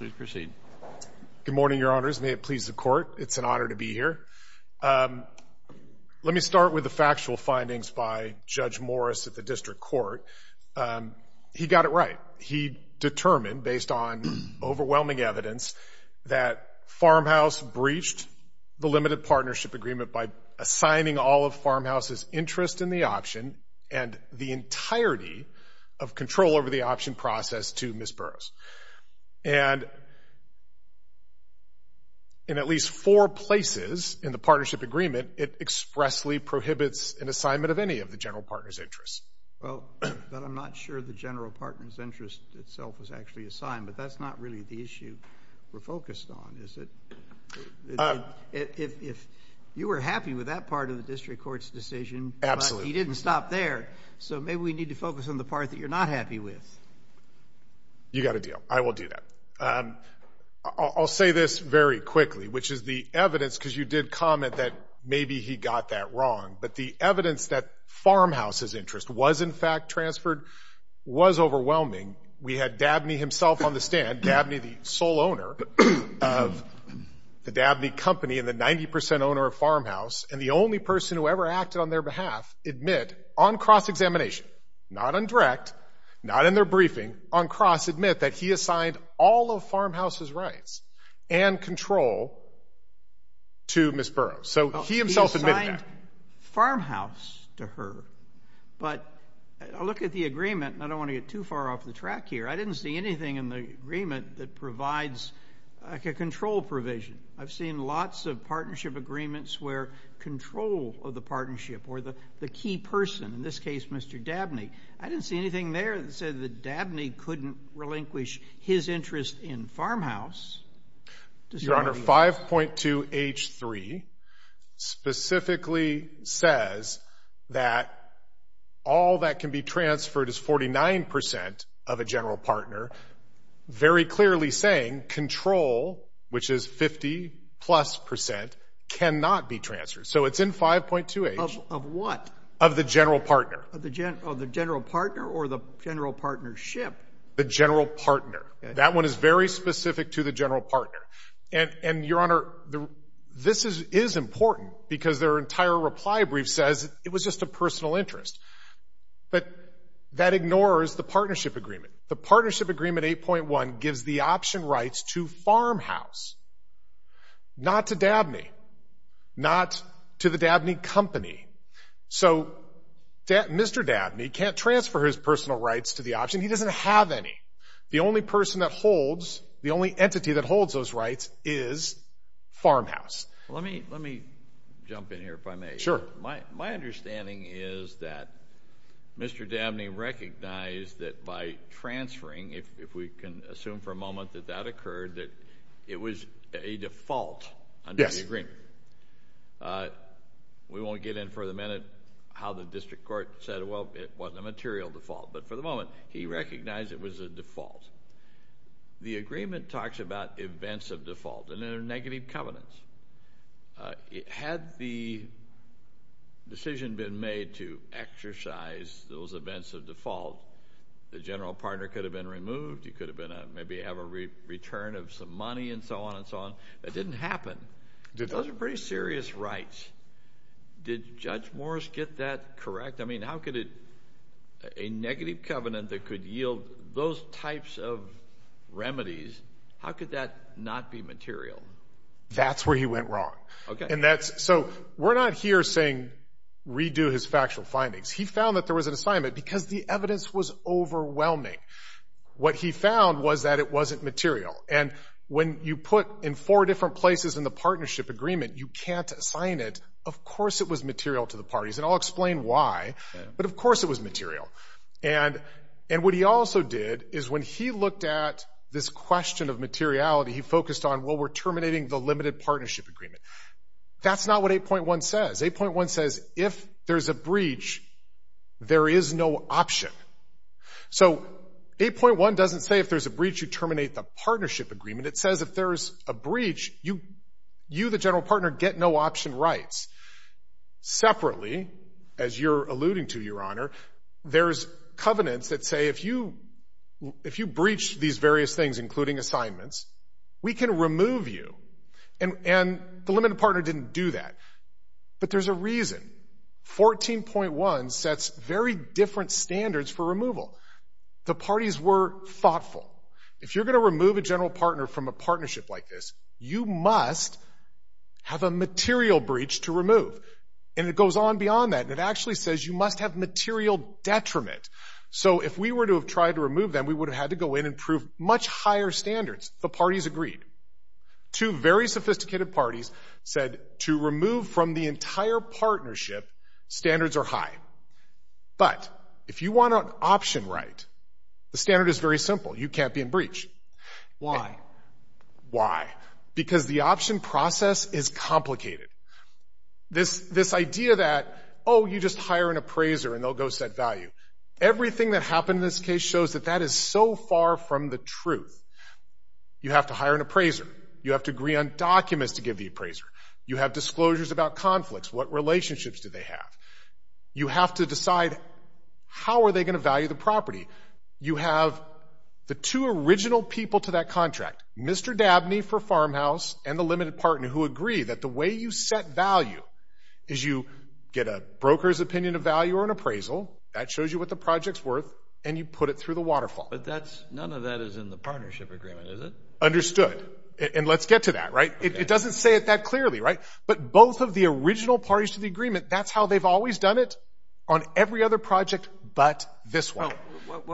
Good morning, Your Honors. May it please the Court, it's an honor to be here. Let me start with the factual findings by Judge Morris at the District Court. He got it right. He determined, based on overwhelming evidence, that Farmhouse breached the Limited Partnership Agreement by assigning all of Farmhouse's interest in the option and the entirety of control over the option process to Ms. Burroughs. And in at least four places in the Partnership Agreement, it expressly prohibits an assignment of any of the general partners' interests. Well, but I'm not sure the general partners' interest itself is actually assigned, but that's not really the issue we're focused on, is it? If you were happy with that part of the District Court's decision, but you didn't stop there, so maybe we need to focus on the part that you're not happy with. You got a deal. I will do that. I'll say this very quickly, which is the evidence, because you did comment that maybe he got that wrong, but the evidence that Farmhouse's interest was in fact transferred was overwhelming. We had Dabney himself on the stand, Dabney the sole owner of the Dabney Company and the 90% owner of Farmhouse, and the only person who ever acted on their behalf admit on cross-examination, not on direct, not in their briefing, on cross admit that he assigned all of Farmhouse's rights and control to Ms. Burroughs. So he himself admitted that. He assigned Farmhouse to her, but I look at the agreement and I don't want to get too far off the track here. I didn't see anything in the agreement that provides a control provision. I've seen lots of partnership agreements where control of the partnership or the key person, in this case Mr. Dabney, I didn't see anything there that said that Dabney couldn't relinquish his interest in Farmhouse. Your Honor, 5.2 H3 specifically says that all that can be transferred is 49% of a general partner, very clearly saying control, which is 50 plus percent, cannot be transferred. So it's in 5.2 H. Of what? Of the general partner. Of the general partner or the general partnership? The general partner. That one is very specific to the general partner. And Your Honor, this is important because their entire reply brief says it was just a personal interest. But that ignores the partnership agreement. The partnership agreement 8.1 gives the option rights to Farmhouse, not to Dabney, not to the Dabney company. So Mr. Dabney can't transfer his personal rights to the option. He doesn't have any. The only person that holds, the only entity that holds those rights is Farmhouse. Let me jump in here if I may. Sure. My question is, if we can assume for a moment that that occurred, that it was a default under the agreement. Yes. We won't get in for the minute how the district court said, well, it wasn't a material default. But for the moment, he recognized it was a default. The agreement talks about events of default and they're negative covenants. Had the decision been made to exercise those rights, you could have been removed. You could have been maybe have a return of some money and so on and so on. That didn't happen. Those are pretty serious rights. Did Judge Morris get that correct? I mean, how could it a negative covenant that could yield those types of remedies? How could that not be material? That's where he went wrong. Okay. And that's so we're not here saying redo his factual findings. He found that there was an assignment because the evidence was overwhelming. What he found was that it wasn't material. And when you put in four different places in the partnership agreement, you can't assign it. Of course it was material to the parties. And I'll explain why. But of course it was material. And what he also did is when he looked at this question of materiality, he focused on, well, we're terminating the limited partnership agreement. That's not what 8.1 says. 8.1 says if there's a breach, there is no option. So 8.1 doesn't say if there's a breach, you terminate the partnership agreement. It says if there's a breach, you, the general partner, get no option rights. Separately, as you're alluding to, Your Honor, there's covenants that say if you if you breach these various things, including assignments, we can remove you. And the limited partner didn't do that. But there's a reason. 14.1 sets very different standards for removal. The parties were thoughtful. If you're gonna remove a general partner from a partnership like this, you must have a material breach to remove. And it goes on beyond that. It actually says you must have material detriment. So if we were to have tried to remove them, we would have had to go in and prove much higher standards. The parties agreed. Two very sophisticated parties said to remove from the entire partnership, standards are high. But if you want an option right, the standard is very simple. You can't be in breach. Why? Why? Because the option process is complicated. This this idea that, oh, you just hire an appraiser and they'll go set value. Everything that happened in this case shows that that is so far from the truth. You have to hire an appraiser. You have to agree on documents to give the appraiser. You have disclosures about conflicts. What relationships do they have? You have to decide how are they going to value the property? You have the two original people to that contract, Mr. Dabney for farmhouse and the limited partner who agree that the way you set value is you get a broker's opinion of value or an appraisal that shows you what the project's worth and you put it through the waterfall. But and let's get to that, right? It doesn't say it that clearly, right? But both of the original parties to the agreement, that's how they've always done it on every other project but this one.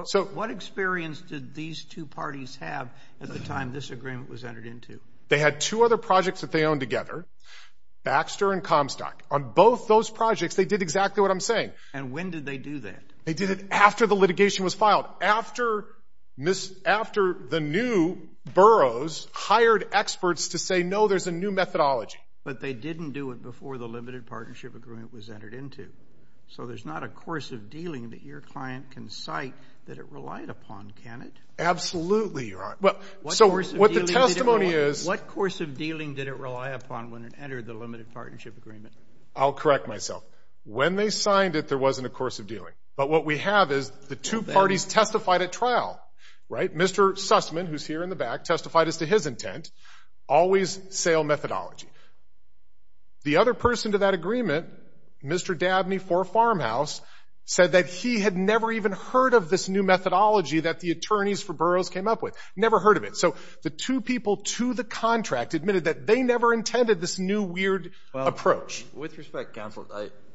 So what experience did these two parties have at the time this agreement was entered into? They had two other projects that they own together, Baxter and Comstock. On both those projects, they did exactly what I'm saying. And when did they do that? They did it after the litigation was filed. After the new boroughs hired experts to say no, there's a new methodology. But they didn't do it before the limited partnership agreement was entered into. So there's not a course of dealing that your client can cite that it relied upon, can it? Absolutely, Your Honor. What course of dealing did it rely upon when it entered the limited partnership agreement? I'll correct myself. When they signed it, there the two parties testified at trial, right? Mr. Sussman, who's here in the back, testified as to his intent. Always sale methodology. The other person to that agreement, Mr. Dabney for Farmhouse, said that he had never even heard of this new methodology that the attorneys for boroughs came up with. Never heard of it. So the two people to the contract admitted that they never intended this new weird approach. With respect, counsel,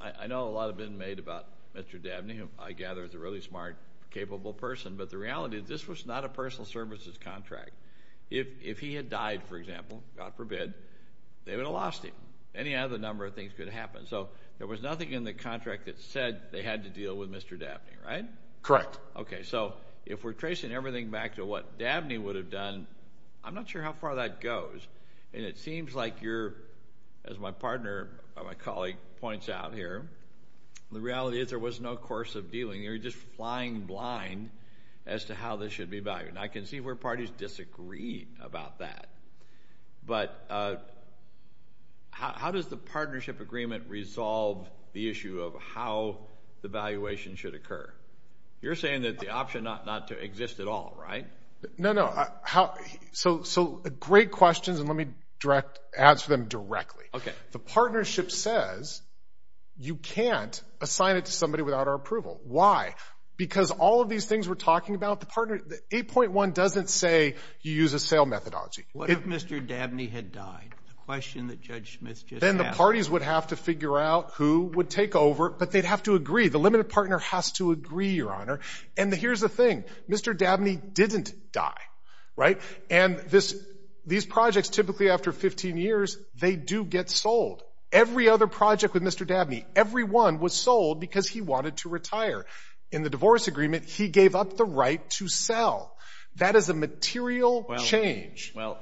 I know a lot has been made about Mr. Dabney being a smart, capable person, but the reality is this was not a personal services contract. If he had died, for example, God forbid, they would have lost him. Any other number of things could happen. So there was nothing in the contract that said they had to deal with Mr. Dabney, right? Correct. Okay, so if we're tracing everything back to what Dabney would have done, I'm not sure how far that goes. And it seems like you're, as my partner, my colleague points out here, the reality is there was no course of dealing. You're just flying blind as to how this should be valued. And I can see where parties disagree about that. But how does the partnership agreement resolve the issue of how the valuation should occur? You're saying that the option not to exist at all, right? No, no. So great questions, and let me direct, answer them directly. Okay. The you can't assign it to somebody without our approval. Why? Because all of these things we're talking about, the partner, the 8.1 doesn't say you use a sale methodology. What if Mr. Dabney had died? The question that Judge Smith just asked. Then the parties would have to figure out who would take over, but they'd have to agree. The limited partner has to agree, Your Honor. And here's the thing. Mr. Dabney didn't die, right? And this, these projects typically after 15 years, they do get sold. Every other project with Mr. Dabney, every one was sold because he wanted to retire. In the divorce agreement, he gave up the right to sell. That is a material change. Well,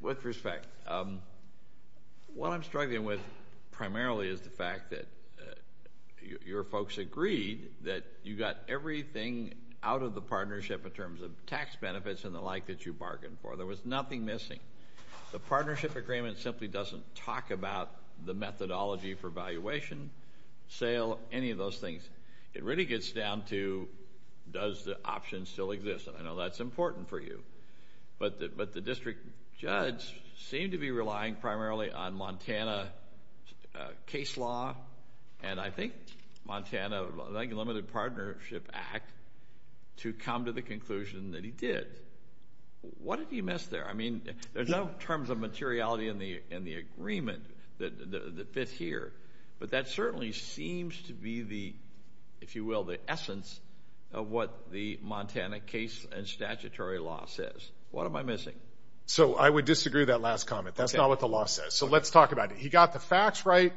with respect, um, what I'm struggling with primarily is the fact that your folks agreed that you got everything out of the partnership in terms of tax benefits and the like that you bargained for. There was nothing missing. The partnership agreement simply doesn't talk about the methodology for valuation, sale, any of those things. It really gets down to does the option still exist? I know that's important for you, but but the district judge seemed to be relying primarily on Montana case law and I think Montana Limited Partnership Act to come to the you missed there? I mean, there's no terms of materiality in the in the agreement that fits here, but that certainly seems to be the, if you will, the essence of what the Montana case and statutory law says. What am I missing? So I would disagree that last comment. That's not what the law says. So let's talk about it. He got the facts right.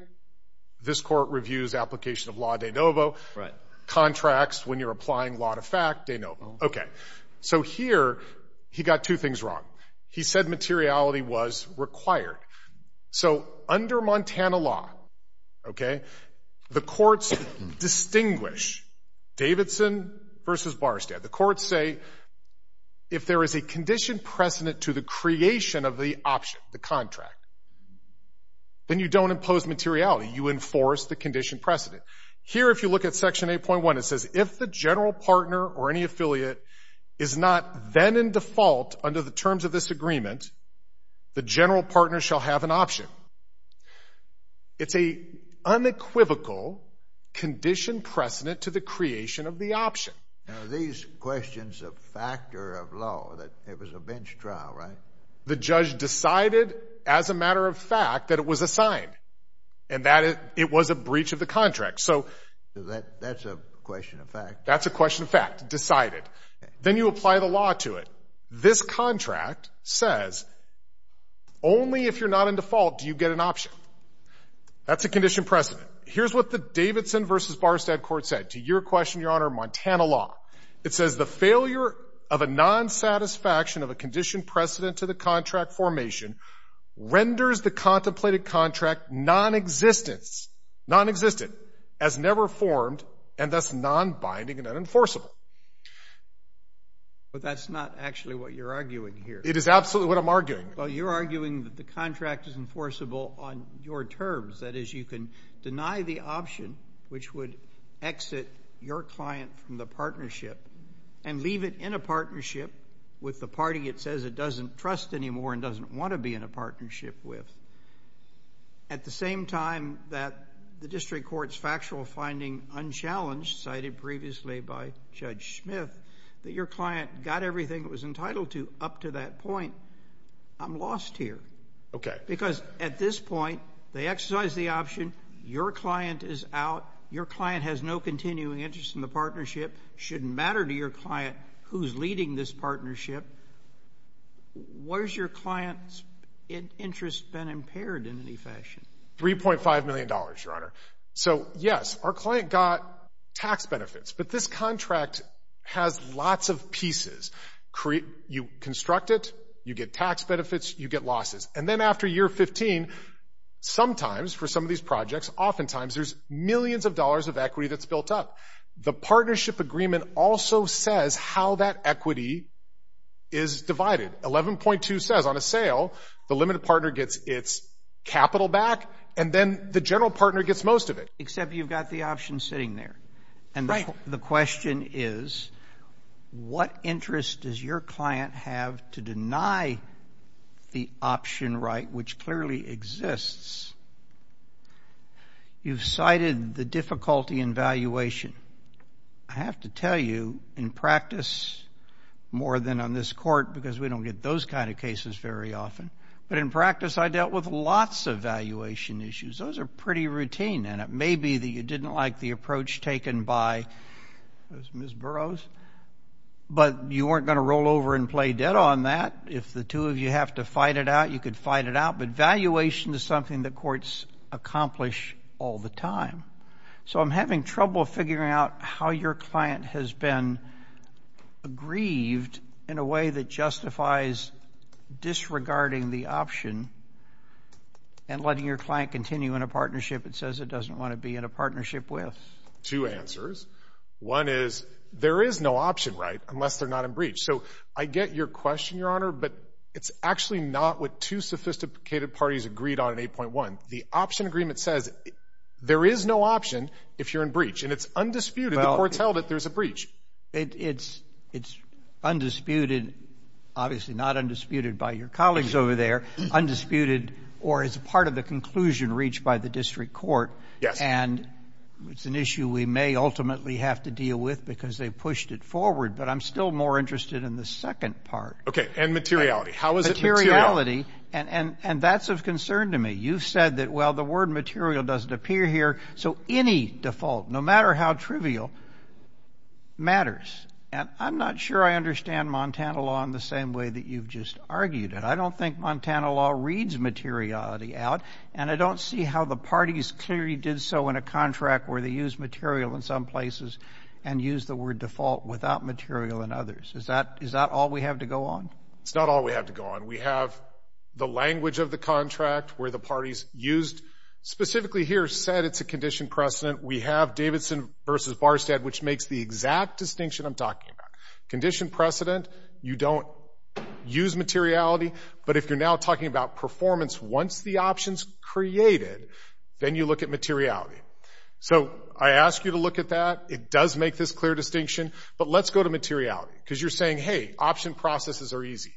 This court reviews application of law de novo contracts when you're applying a lot of fact, de novo. Okay, so here he got two things wrong. He said materiality was required. So under Montana law, okay, the courts distinguish Davidson versus Barstow. The courts say if there is a condition precedent to the creation of the option, the contract, then you don't impose materiality. You enforce the condition precedent here. If you look at Section 8.1, it says if the general partner or any affiliate is not then in default under the terms of this agreement, the general partner shall have an option. It's a unequivocal condition precedent to the creation of the option. Now, these questions of factor of law that it was a bench trial, right? The judge decided as a matter of fact that it was assigned and that it was a breach of the contract. So that that's a question of fact, that's a question of fact decided. Then you apply the law to it. This contract says only if you're not in default, do you get an option? That's a condition precedent. Here's what the Davidson versus Barstow court said to your question, Your Honor. Montana law. It says the failure of a non satisfaction of a condition precedent to the contract formation renders the contemplated contract non existence, non existent as never formed and that's non binding and unenforceable. But that's not actually what you're arguing here. It is absolutely what I'm arguing. Well, you're arguing that the contract is enforceable on your terms. That is, you can deny the option which would exit your client from the partnership and leave it in a partnership with the party. It says it doesn't trust anymore and doesn't want to be in a partnership with your client. At the same time that the district court's factual finding unchallenged, cited previously by Judge Smith, that your client got everything that was entitled to up to that point. I'm lost here. Okay. Because at this point, they exercise the option. Your client is out. Your client has no continuing interest in the partnership. Shouldn't matter to your client who's leading this partnership. Where's your client's interest been impaired in any fashion? $3.5 million, Your Honor. So, yes, our client got tax benefits, but this contract has lots of pieces. You construct it, you get tax benefits, you get losses. And then after year 15, sometimes for some of these projects, oftentimes there's millions of dollars of equity that's built up. The partnership agreement also says how that equity is divided. 11.2 says on a sale, the limited partner gets its capital back, and then the general partner gets most of it. Except you've got the option sitting there. And the question is, what interest does your client have to deny the option right, which clearly exists? You've cited the difficulty in valuation. I have to tell you, in practice, more than on this Court, because we don't get those kind of cases very often, but in practice, I dealt with lots of valuation issues. Those are pretty routine, and it may be that you didn't like the approach taken by those Ms. Burroughs, but you weren't going to roll over and play dead on that. If the two of you have to fight it out, you could fight it out. But courts accomplish all the time. So I'm having trouble figuring out how your client has been aggrieved in a way that justifies disregarding the option and letting your client continue in a partnership it says it doesn't want to be in a partnership with. Two answers. One is there is no option, right, unless they're not in breach. So I get your question, Your Honor, but it's actually not what two sophisticated parties agreed on in 8.1. The option agreement says there is no option if you're in breach, and it's undisputed. The Court's held that there's a breach. It's undisputed, obviously not undisputed by your colleagues over there, undisputed or as part of the conclusion reached by the District Court, and it's an issue we may ultimately have to deal with because they pushed it forward, but I'm still more interested in the second part. Okay, and materiality. How is it materiality? And that's of concern to me. You've said that, well, the word material doesn't appear here, so any default, no matter how trivial, matters. And I'm not sure I understand Montana law in the same way that you've just argued it. I don't think Montana law reads materiality out, and I don't see how the parties clearly did so in a contract where they use material in some places and use the word default without material in others. Is that all we have to go on? It's not all we have to go on. We have the language of the contract, where the parties used specifically here said it's a condition precedent. We have Davidson versus Barstead, which makes the exact distinction I'm talking about. Condition precedent, you don't use materiality, but if you're now talking about performance, once the option's created, then you look at materiality. So I ask you to look at that. It does make this clear distinction, but let's go to materiality, because you're saying, hey, option processes are easy.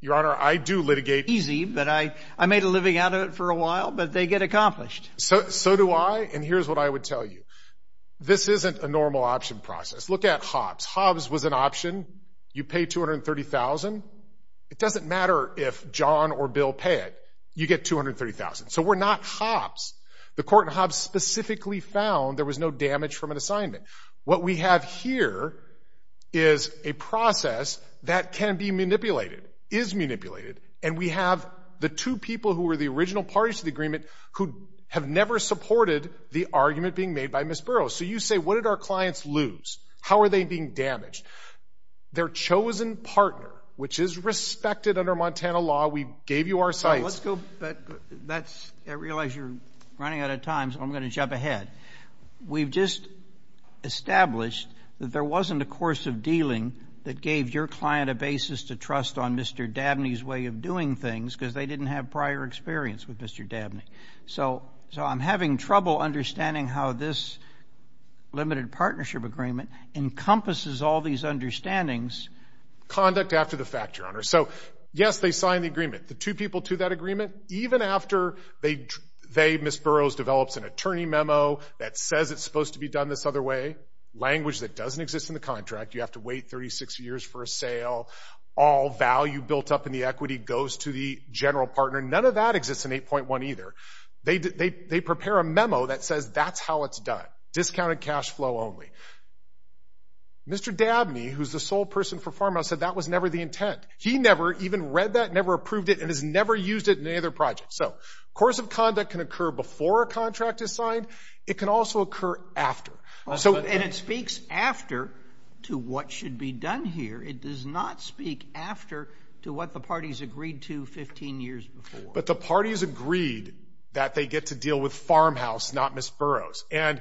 Your Honor, I do litigate easy, but I made a living out of it for a while, but they get accomplished. So do I, and here's what I would tell you. This isn't a normal option process. Look at Hobbs. Hobbs was an option. You pay $230,000. It doesn't matter if John or Bill pay it. You get $230,000. So we're not Hobbs. The court in Hobbs specifically found there was no damage from an assignment. What we have here is a process that can be manipulated, is manipulated, and we have the two people who were the original parties to the agreement who have never supported the argument being made by Ms. Burroughs. So you say, what did our clients lose? How are they being damaged? Their chosen partner, which is respected under Montana law. We gave you our sites. Let's go back. That's, I realize you're running out of time, so I'm going to jump ahead. We've just established that there wasn't a course of dealing that gave your client a basis to trust on Mr. Dabney's way of doing things, because they didn't have prior experience with Mr. Dabney. So, so I'm having trouble understanding how this limited partnership agreement encompasses all these understandings. Conduct after the fact, Your Honor. So, yes, they signed the agreement. The two people to that agreement, even after they, Ms. Burroughs develops an attorney memo that says it's supposed to be done this other way. Language that doesn't exist in the contract. You have to wait 36 years for a sale. All value built up in the equity goes to the general partner. None of that exists in 8.1 either. They prepare a memo that says that's how it's done. Discounted cash flow only. Mr. Dabney, who's the sole person for Farmhouse, said that was never the intent. He never even read that, never approved it, and has never used it in any other project. So course of conduct can occur before a contract is signed. It could also occur after. And it speaks after to what should be done here. It does not speak after to what the parties agreed to 15 years before. But the parties agreed that they get to deal with Farmhouse, not Ms. Burroughs. And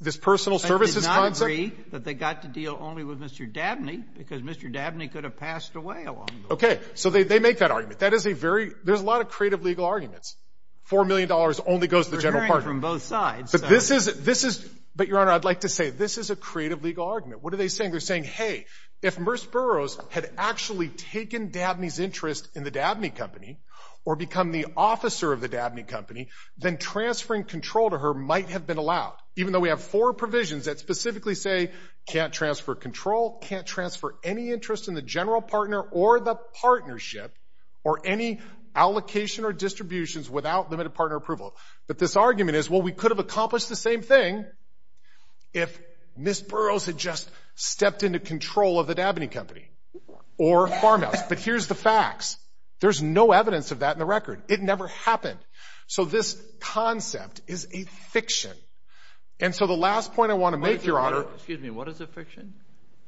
this personal services concept. They did not agree that they got to deal only with Mr. Dabney because Mr. Dabney could have passed away a long time ago. Okay. So they make that argument. That is a very, there's a lot of creative legal arguments. $4 million only goes to the general partner. We're hearing it from both sides. But this is, this is, but Your Honor, I'd like to say this is a creative legal argument. What are they saying? They're saying, hey, if Ms. Burroughs had actually taken Dabney's interest in the Dabney Company or become the officer of the Dabney Company, then transferring control to her might have been allowed. Even though we have four provisions that specifically say, can't transfer control, can't transfer any interest in the general partner or the partnership, or any allocation or distributions without limited partner approval. But this argument is, well, we could have accomplished the same thing if Ms. Burroughs had just stepped into control of the Dabney Company or Farmhouse. But here's the facts. There's no evidence of that in the record. It never happened. So this concept is a fiction. And so the last point I want to make, Your Honor, excuse me, what is a fiction?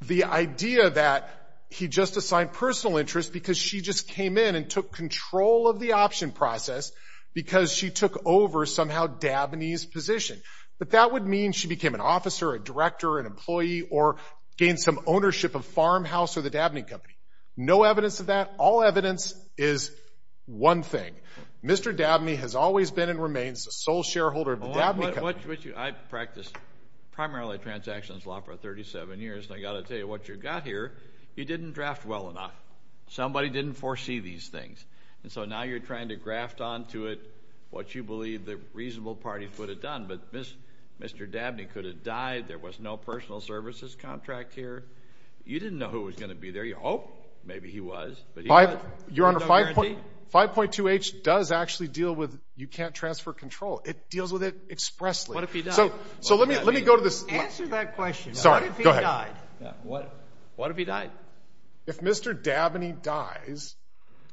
The idea that he just assigned personal interest because she just came in and took control of the option process because she took over somehow Dabney's position. But that would mean she became an officer, a director, an employee, or gained some ownership of Farmhouse or the Dabney Company. No evidence of that. All evidence is one thing. Mr. Dabney has always been and remains the sole shareholder of the Dabney Company. I've practiced primarily transactions law for 37 years. And I've got to tell you, what you've got here, you didn't draft well enough. Somebody didn't foresee these things. And so now you're trying to graft onto it what you believe the reasonable parties would have done. But Mr. Dabney could have died. There was no personal services contract here. You didn't know who was going to be there. Oh, maybe he was. Your Honor, 5.2h does actually deal with, you can't transfer control. It deals with it expressly. What if he died? So let me go to this. Answer that question. What if he died? What if he died? If Mr. Dabney dies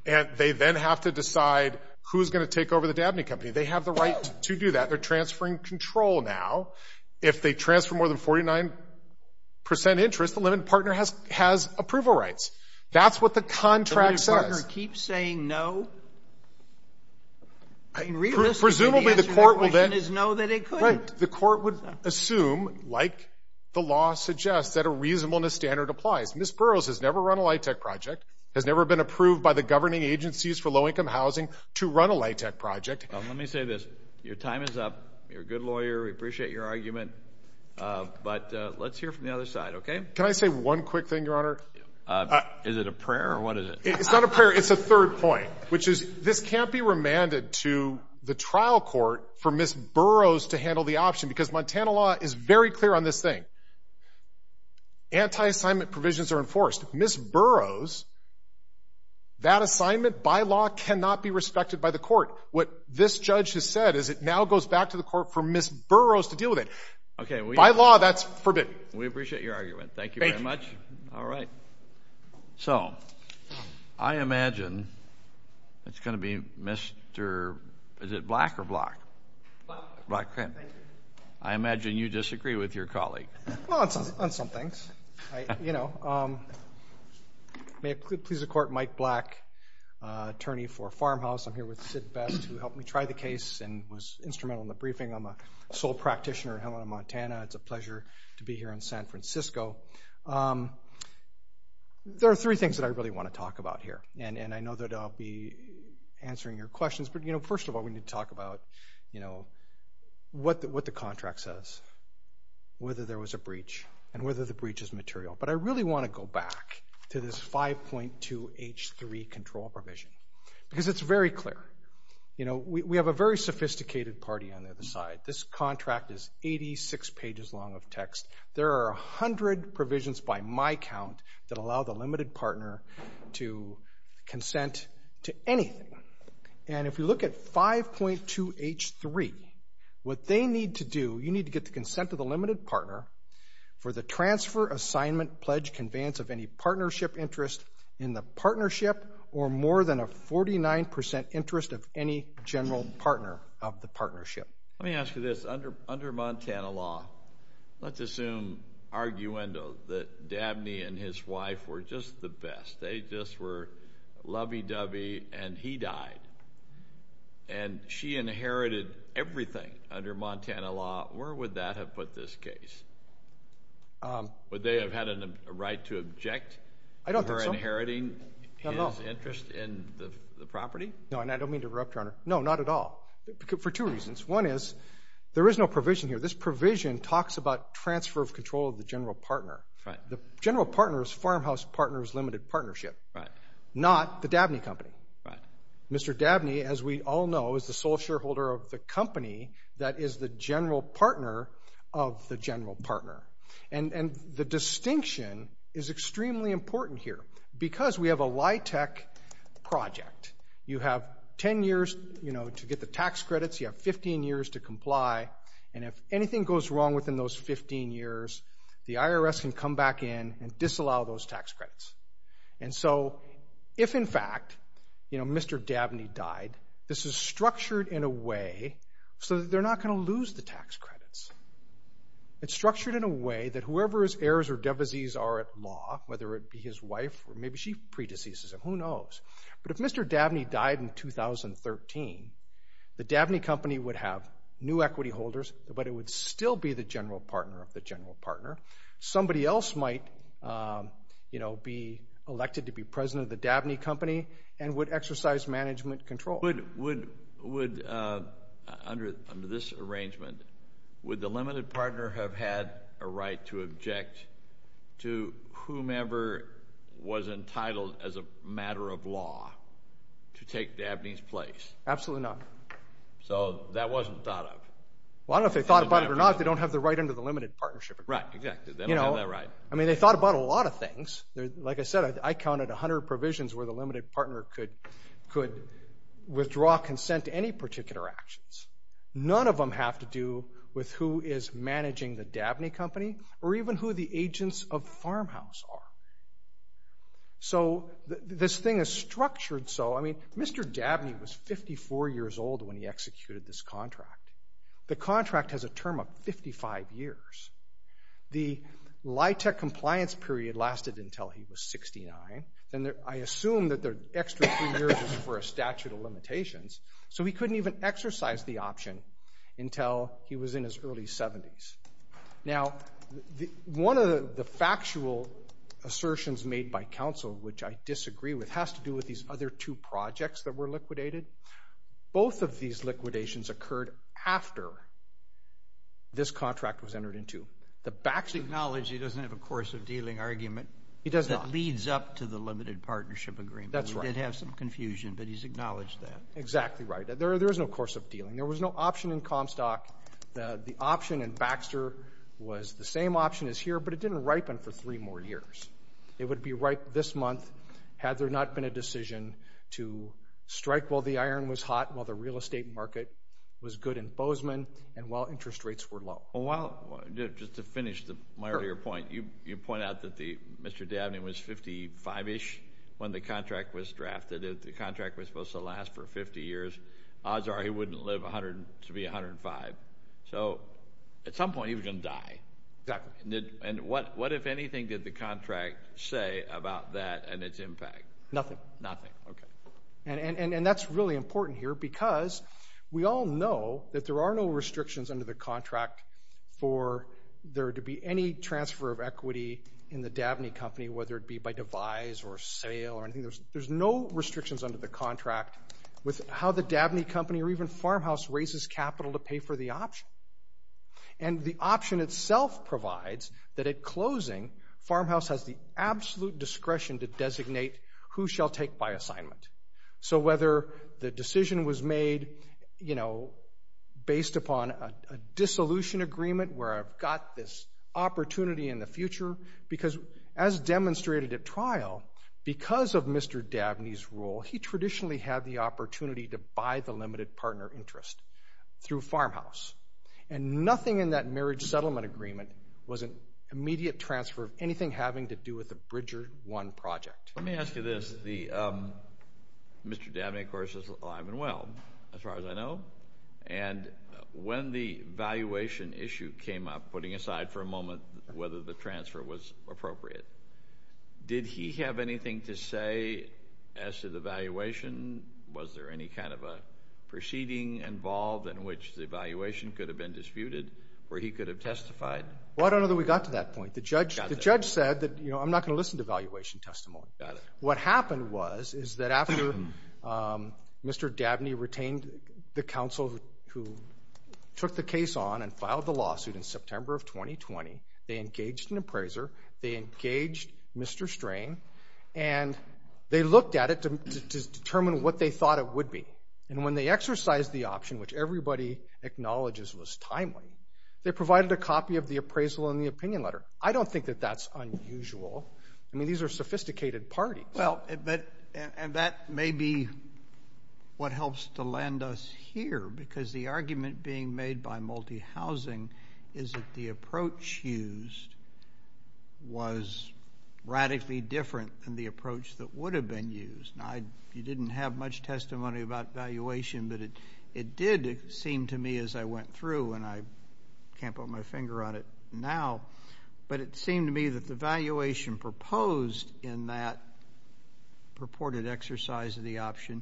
and they then have to decide who's going to take over the Dabney Company, they have the right to do that. They're transferring control now. If they transfer more than That's what the contract says. Keep saying no? I mean, realistically, the answer to that question is no, that it couldn't. The court would assume, like the law suggests, that a reasonableness standard applies. Ms. Burroughs has never run a light tech project, has never been approved by the governing agencies for low-income housing to run a light tech project. Let me say this. Your time is up. You're a good lawyer. We appreciate your argument. But let's hear from the other side, okay? Can I say one quick thing, Your Honor? Is it a prayer, or what is it? It's not a prayer. It's a third point, which is this can't be remanded to the trial court for Ms. Burroughs to handle the option, because Montana law is very clear on this thing. Anti-assignment provisions are enforced. Ms. Burroughs, that assignment by law cannot be respected by the court. What this judge has said is it now goes back to the court for Ms. Burroughs to deal with it. Okay. By law, that's forbidden. We appreciate your argument. All right. So, I imagine it's gonna be Mr., is it Black or Black? Black. I imagine you disagree with your colleague. Well, on some things. You know, may it please the Court, Mike Black, attorney for Farmhouse. I'm here with Sid Best, who helped me try the case and was instrumental in the briefing. I'm a sole There are three things that I really want to talk about here, and I know that I'll be answering your questions, but, you know, first of all, we need to talk about, you know, what the contract says, whether there was a breach, and whether the breach is material. But I really want to go back to this 5.2 H3 control provision, because it's very clear. You know, we have a very sophisticated party on the other side. This contract is 86 pages long of text. There are a hundred provisions by my count that allow the limited partner to consent to anything. And if you look at 5.2 H3, what they need to do, you need to get the consent of the limited partner for the transfer assignment pledge conveyance of any partnership interest in the partnership or more than a 49% interest of any general partner of the partnership. Let me ask you this, under Montana law, let's assume, arguendo, that Dabney and his wife were just the best. They just were lovey-dovey, and he died. And she inherited everything under Montana law. Where would that have put this case? Would they have had a right to object? I don't think so. Inheriting interest in the property? No, and I don't mean to interrupt, Your Honor. No, not at all. For two reasons. One is, there is no provision here. This provision talks about transfer of control of the general partner. The general partner is Farmhouse Partners Limited Partnership, not the Dabney Company. Mr. Dabney, as we all know, is the sole shareholder of the company that is the general partner of the general partner. And the distinction is extremely important here, because we have a LIHTC project. You have 10 years to get the tax credits. You have 15 years to comply. And if anything goes wrong within those 15 years, the IRS can come back in and disallow those tax credits. And so, if in fact, you know, Mr. Dabney died, this is structured in a way so that they're not going to lose the tax credits. It's structured in a way that whoever his heirs or devisees are at law, whether it be his wife, or maybe she deceased, who knows. But if Mr. Dabney died in 2013, the Dabney Company would have new equity holders, but it would still be the general partner of the general partner. Somebody else might, you know, be elected to be president of the Dabney Company and would exercise management control. Would, under this arrangement, would the limited partner have had a right to as a matter of law to take Dabney's place? Absolutely not. So that wasn't thought of? Well, I don't know if they thought about it or not. They don't have the right under the limited partnership agreement. Right, exactly. They don't have that right. You know, I mean, they thought about a lot of things. Like I said, I counted 100 provisions where the limited partner could withdraw consent to any particular actions. None of them have to do with who is managing the Dabney Company or even who the agents of Farmhouse are. So this thing is structured so, I mean, Mr. Dabney was 54 years old when he executed this contract. The contract has a term of 55 years. The LIHTC compliance period lasted until he was 69, and I assume that their extra three years was for a statute of limitations, so he couldn't even exercise the option until he was in his early 70s. Now, one of the factual assertions made by counsel, which I disagree with, has to do with these other two projects that were liquidated. Both of these liquidations occurred after this contract was entered into. The back... He's acknowledged he doesn't have a course of dealing argument. He does not. That leads up to the limited partnership agreement. That's right. We did have some confusion, but he's acknowledged that. Exactly right. There is no course of dealing. There was no option in Comstock. The option in Baxter was the same option as here, but it didn't ripen for three more years. It would be ripe this month had there not been a decision to strike while the iron was hot, while the real estate market was good in Bozeman, and while interest rates were low. Well, just to finish my earlier point, you point out that Mr. Dabney was 55-ish when the contract was drafted. The contract was supposed to last for 50 years. Odds are he wouldn't live to be 105. So at some point he was gonna die. Exactly. And what if anything did the contract say about that and its impact? Nothing. Nothing. Okay. And that's really important here because we all know that there are no restrictions under the contract for there to be any transfer of equity in the Dabney company, whether it be by devise or sale or anything. There's no restrictions under the contract with how the Dabney company or even Farmhouse raises capital to pay for the option. And the option itself provides that at closing, Farmhouse has the absolute discretion to designate who shall take by assignment. So whether the decision was made, you know, based upon a dissolution agreement where I've got this opportunity in the future, because as Mr. Dabney's role, he traditionally had the opportunity to buy the limited partner interest through Farmhouse. And nothing in that marriage settlement agreement was an immediate transfer of anything having to do with the Bridger One project. Let me ask you this. Mr. Dabney, of course, is alive and well, as far as I know. And when the valuation issue came up, putting aside for a moment whether the transfer was appropriate, did he have anything to say as to the valuation? Was there any kind of a proceeding involved in which the valuation could have been disputed where he could have testified? Well, I don't know that we got to that point. The judge said that, you know, I'm not gonna listen to valuation testimony. What happened was is that after Mr. Dabney retained the counsel who took the case on and filed the lawsuit in September of 2020, they engaged an appraiser, they engaged Mr. Strain, and they looked at it to determine what they thought it would be. And when they exercised the option, which everybody acknowledges was timely, they provided a copy of the appraisal in the opinion letter. I don't think that that's unusual. I mean, these are sophisticated parties. Well, and that may be what helps to land us here, because the argument being made by multi-housing is that the approach used was radically different than the approach that would have been used. Now, you didn't have much testimony about valuation, but it did seem to me as I went through, and I can't put my finger on it now, but it seemed to me that the valuation proposed in that purported exercise of the option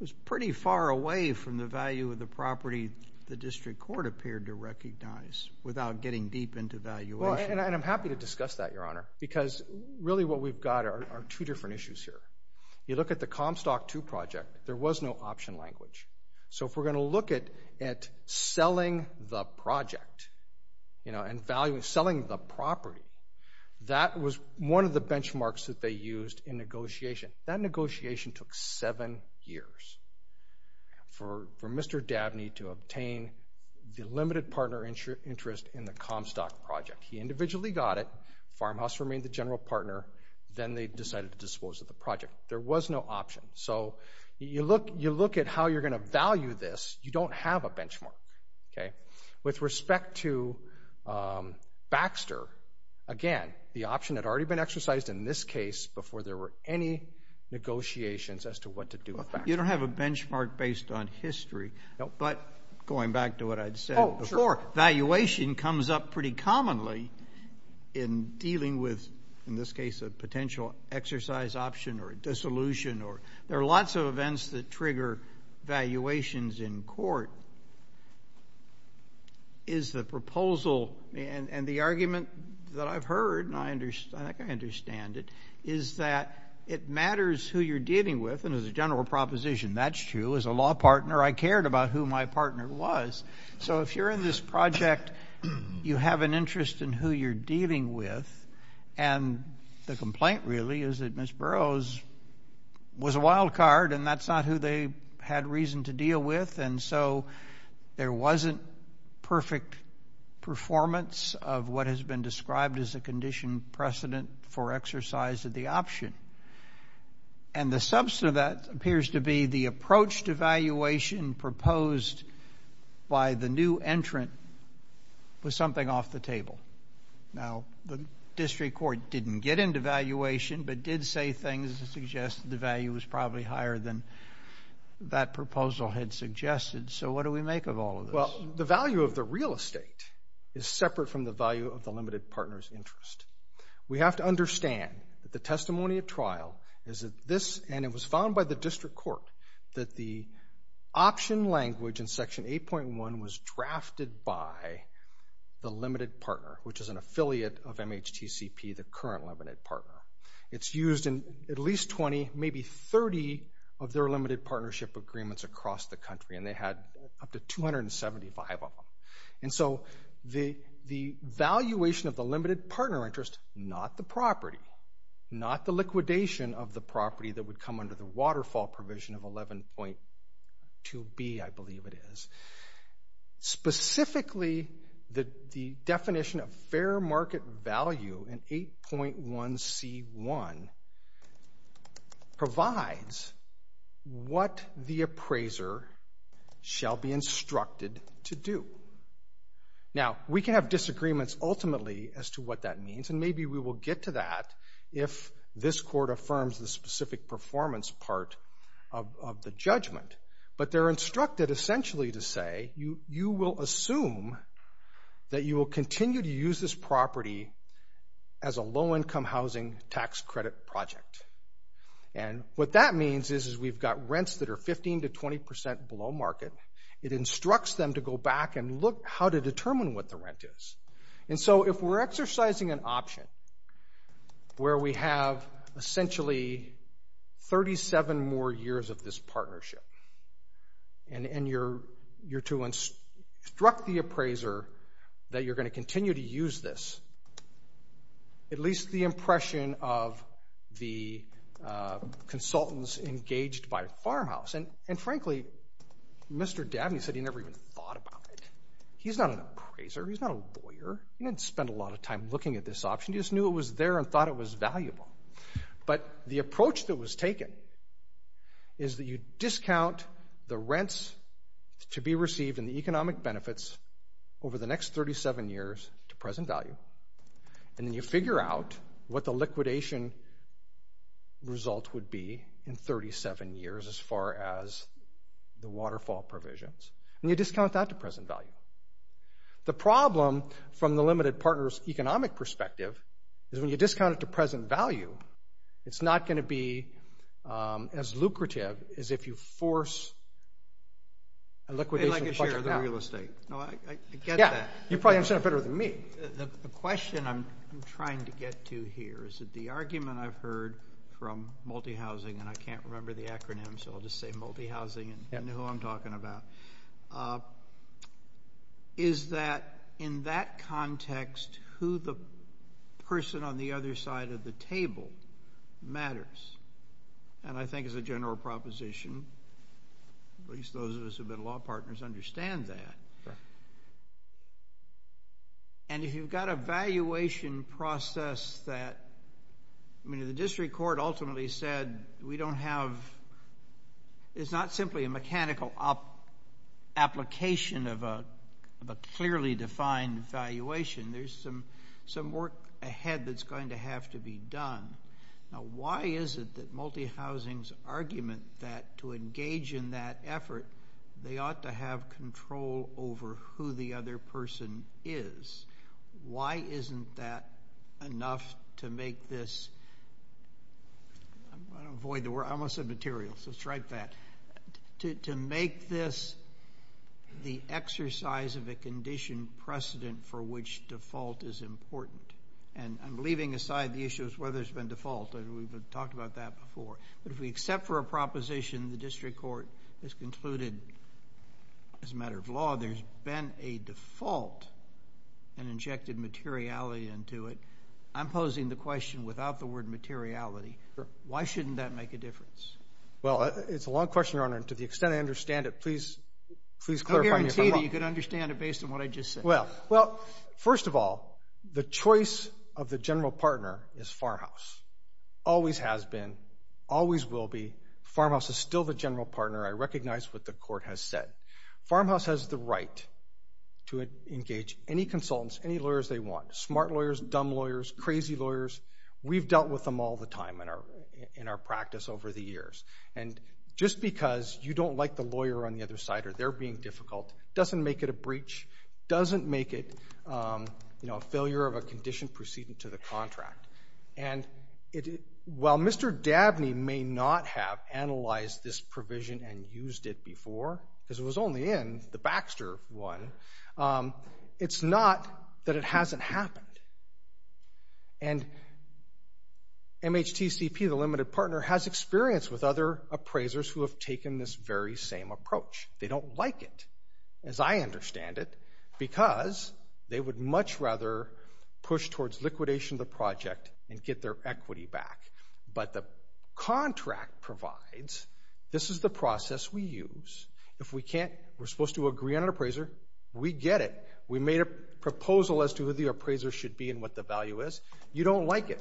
was pretty far from the value of the property the district court appeared to recognize without getting deep into valuation. Well, and I'm happy to discuss that, Your Honor, because really what we've got are two different issues here. You look at the Comstock II project, there was no option language. So if we're going to look at selling the project, you know, and selling the property, that was one of the benchmarks that they used in negotiation. That was for Mr. Dabney to obtain the limited partner interest in the Comstock project. He individually got it, Farmhouse remained the general partner, then they decided to dispose of the project. There was no option. So you look at how you're going to value this, you don't have a benchmark, okay? With respect to Baxter, again, the option had already been exercised in this case before there were any negotiations as to what to do with Baxter. You don't have a benchmark on history. But going back to what I'd said before, valuation comes up pretty commonly in dealing with, in this case, a potential exercise option or dissolution or there are lots of events that trigger valuations in court. Is the proposal and the argument that I've heard, and I understand it, is that it matters who you're dealing with, and as a general proposition, that's true, as a law partner, I cared about who my partner was. So if you're in this project, you have an interest in who you're dealing with, and the complaint really is that Ms. Burroughs was a wild card and that's not who they had reason to deal with, and so there wasn't perfect performance of what has been described as a condition precedent for exercise of the option. And the substance of that valuation proposed by the new entrant was something off the table. Now, the district court didn't get into valuation, but did say things to suggest the value was probably higher than that proposal had suggested. So what do we make of all of this? Well, the value of the real estate is separate from the value of the limited partner's interest. We have to understand that the testimony of trial is that this, and it was found by the district court, that the option language in section 8.1 was drafted by the limited partner, which is an affiliate of MHTCP, the current limited partner. It's used in at least 20, maybe 30 of their limited partnership agreements across the country, and they had up to 275 of them. And so the valuation of the limited partner interest, not the property, not the liquidation of the property that would come under the waterfall provision of 11.2b, I believe it is, specifically the definition of fair market value in 8.1c1 provides what the appraiser shall be instructed to do. Now, we can have disagreements ultimately as to what that means, and maybe we will get to that if this court affirms the specific performance part of the judgment. But they're instructed essentially to say, you will assume that you will continue to use this property as a low-income housing tax credit project. And what that means is we've got rents that are 15 to 20 percent below market. It instructs them to go back and look how to determine what the rent is. And so if we're exercising an option where we have essentially 37 more years of this partnership, and you're to instruct the appraiser that you're going to continue to use this, at least the impression of the consultants engaged by a farmhouse. And frankly, Mr. Dabney said he never even thought about it. He's not an appraiser. He's not a lawyer. He didn't spend a lot of time looking at this option. He just knew it was there and thought it was valuable. But the approach that was taken is that you discount the rents to be received and the economic benefits over the next 37 years to present value, and then you figure out what the liquidation result would be in 37 years as far as the value. The problem from the limited partner's economic perspective is when you discount it to present value, it's not going to be as lucrative as if you force a liquidation. You probably understand that better than me. The question I'm trying to get to here is that the argument I've heard from multi-housing, and I can't remember the acronym so I'll just say multi-housing and know who I'm talking about, is that in that context who the person on the other side of the table matters. And I think as a general proposition, at least those of us who've been law partners understand that. And if you've got a valuation process that, I mean the district court ultimately said we don't have, it's not simply a mechanical application of a clearly defined valuation. There's some work ahead that's going to have to be done. Now why is it that multi-housings argument that to engage in that effort they ought to have control over who the other person is? Why isn't that enough to avoid, I want to say material, so strike that. To make this the exercise of a condition precedent for which default is important, and I'm leaving aside the issues where there's been default and we've talked about that before, but if we accept for a proposition the district court has concluded as a matter of law there's been a default and injected materiality into it, I'm posing the Well, it's a long question, Your Honor, and to the extent I understand it, please please clarify me if I'm wrong. I guarantee that you could understand it based on what I just said. Well, well, first of all, the choice of the general partner is Farmhouse. Always has been, always will be. Farmhouse is still the general partner. I recognize what the court has said. Farmhouse has the right to engage any consultants, any lawyers they want. Smart lawyers, dumb lawyers, crazy lawyers, we've dealt with them all the time in our practice over the years, and just because you don't like the lawyer on the other side or they're being difficult doesn't make it a breach, doesn't make it, you know, a failure of a condition precedent to the contract, and while Mr. Dabney may not have analyzed this provision and used it before, because it was only in the Baxter one, it's not that it hasn't happened, and MHTCP, the limited partner, has experience with other appraisers who have taken this very same approach. They don't like it, as I understand it, because they would much rather push towards liquidation of the project and get their equity back, but the contract provides, this is the process we use. If we can't, we're supposed to agree on an appraiser, we get it, we made a proposal as to who the appraiser should be and what the value is, you don't like it,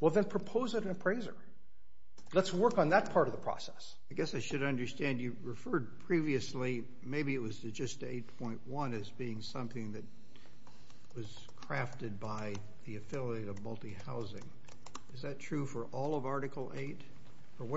well then propose it an appraiser. Let's work on that part of the process. I guess I should understand you referred previously, maybe it was to just 8.1 as being something that was crafted by the affiliate of multi-housing. Is that true for all of Article 8?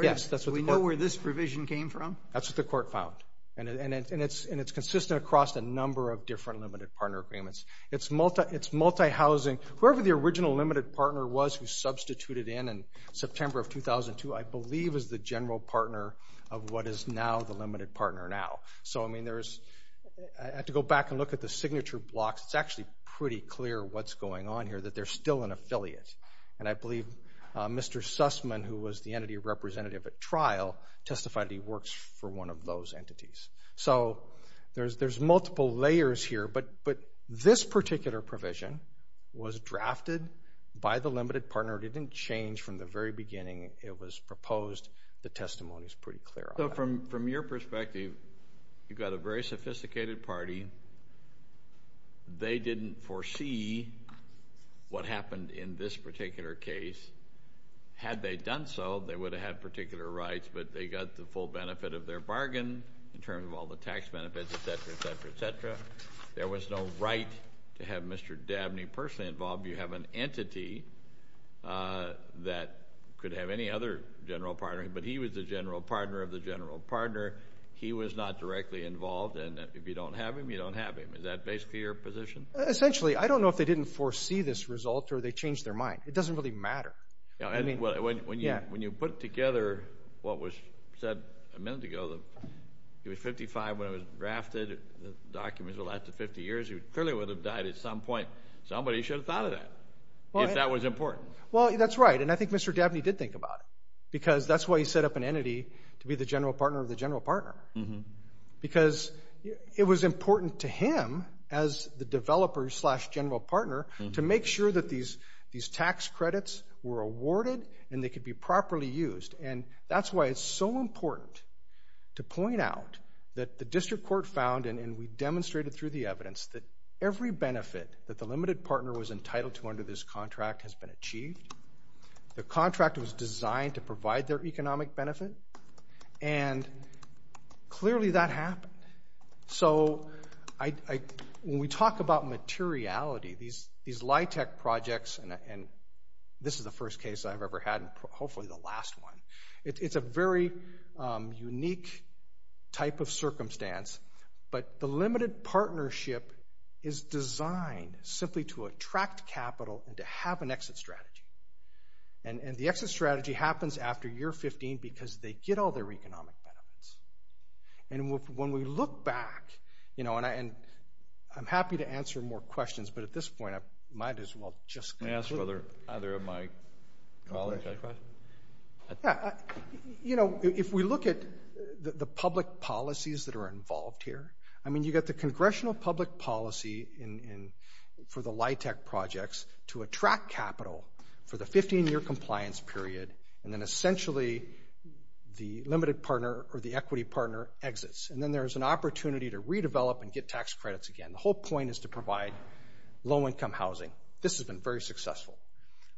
Yes, that's what we this provision came from? That's what the court found, and it's consistent across a number of different limited partner agreements. It's multi-housing, whoever the original limited partner was who substituted in in September of 2002, I believe is the general partner of what is now the limited partner now. So I mean, I have to go back and look at the signature blocks, it's actually pretty clear what's going on here, that they're still an affiliate, and I believe Mr. Sussman, who was the entity representative at trial, testified he works for one of those entities. So there's multiple layers here, but this particular provision was drafted by the limited partner, it didn't change from the very beginning it was proposed, the testimony is pretty clear. So from your perspective, you've got a very sophisticated party, they didn't foresee what happened in this particular case. Had they done so, they would have had particular rights, but they got the full benefit of their bargain in terms of all the tax benefits, etc., etc., etc. There was no right to have Mr. Dabney personally involved, you have an entity that could have any other general partner, but he was the general partner of the general partner, he was not directly involved, and if you don't have him, you don't have him. Is that basically your position? Essentially, I don't know if they didn't foresee this result or they changed their mind. It doesn't really matter. When you put together what was said a minute ago, he was 55 when it was drafted, the documents were left to 50 years, he clearly would have died at some point. Somebody should have thought of that, if that was important. Well, that's right, and I think Mr. Dabney did think about it, because that's why he set up an entity to be the general partner of the general partner, because it was important to him as the developer slash general partner to make sure that these tax credits were awarded and they could be properly used, and that's why it's so important to point out that the district court found, and we demonstrated through the evidence, that every benefit that the limited partner was entitled to under this contract has been achieved. The contract was designed to provide their When we talk about materiality, these LIHTC projects, and this is the first case I've ever had, and hopefully the last one, it's a very unique type of circumstance, but the limited partnership is designed simply to attract capital and to have an exit strategy, and the exit strategy happens after year 15 because they get all their economic benefits, and when we look back, you know, and I'm happy to answer more questions, but at this point, I might as well just ask whether either of my colleagues has a question. Yeah, you know, if we look at the public policies that are involved here, I mean, you got the congressional public policy for the LIHTC projects to attract capital for the 15-year compliance period, and then essentially the limited partner or the equity partner exits, and then there's an opportunity to redevelop and get tax credits again. The whole point is to provide low-income housing. This has been very successful.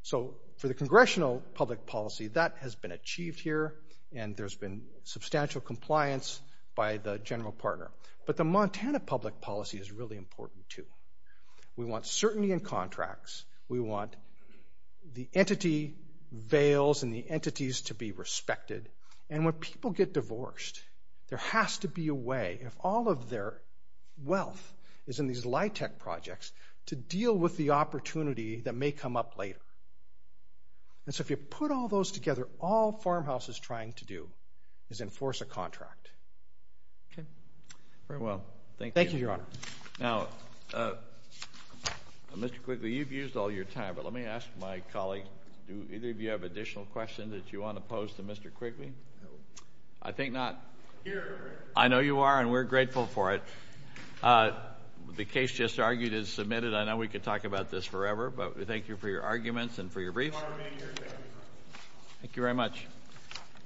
So for the congressional public policy, that has been achieved here, and there's been substantial compliance by the general partner, but the Montana public policy is really important, too. We want certainty in contracts. We want the entity veils and the entities to be respected, and when people get divorced, there has to be a way, if all of their wealth is in these LIHTC projects, to deal with the opportunity that may come up later, and so if you put all those together, all Farmhouse is trying to do is enforce a contract. Okay, very well. Thank you, Your Honor. Now, Mr. Quigley, you've used all your time, but let me ask my colleague, do either of you have additional questions that you want to pose to Mr. Quigley? I think not. I know you are, and we're grateful for it. The case just argued is submitted. I know we could talk about this forever, but we thank you for your arguments and for your briefs. Thank you very much.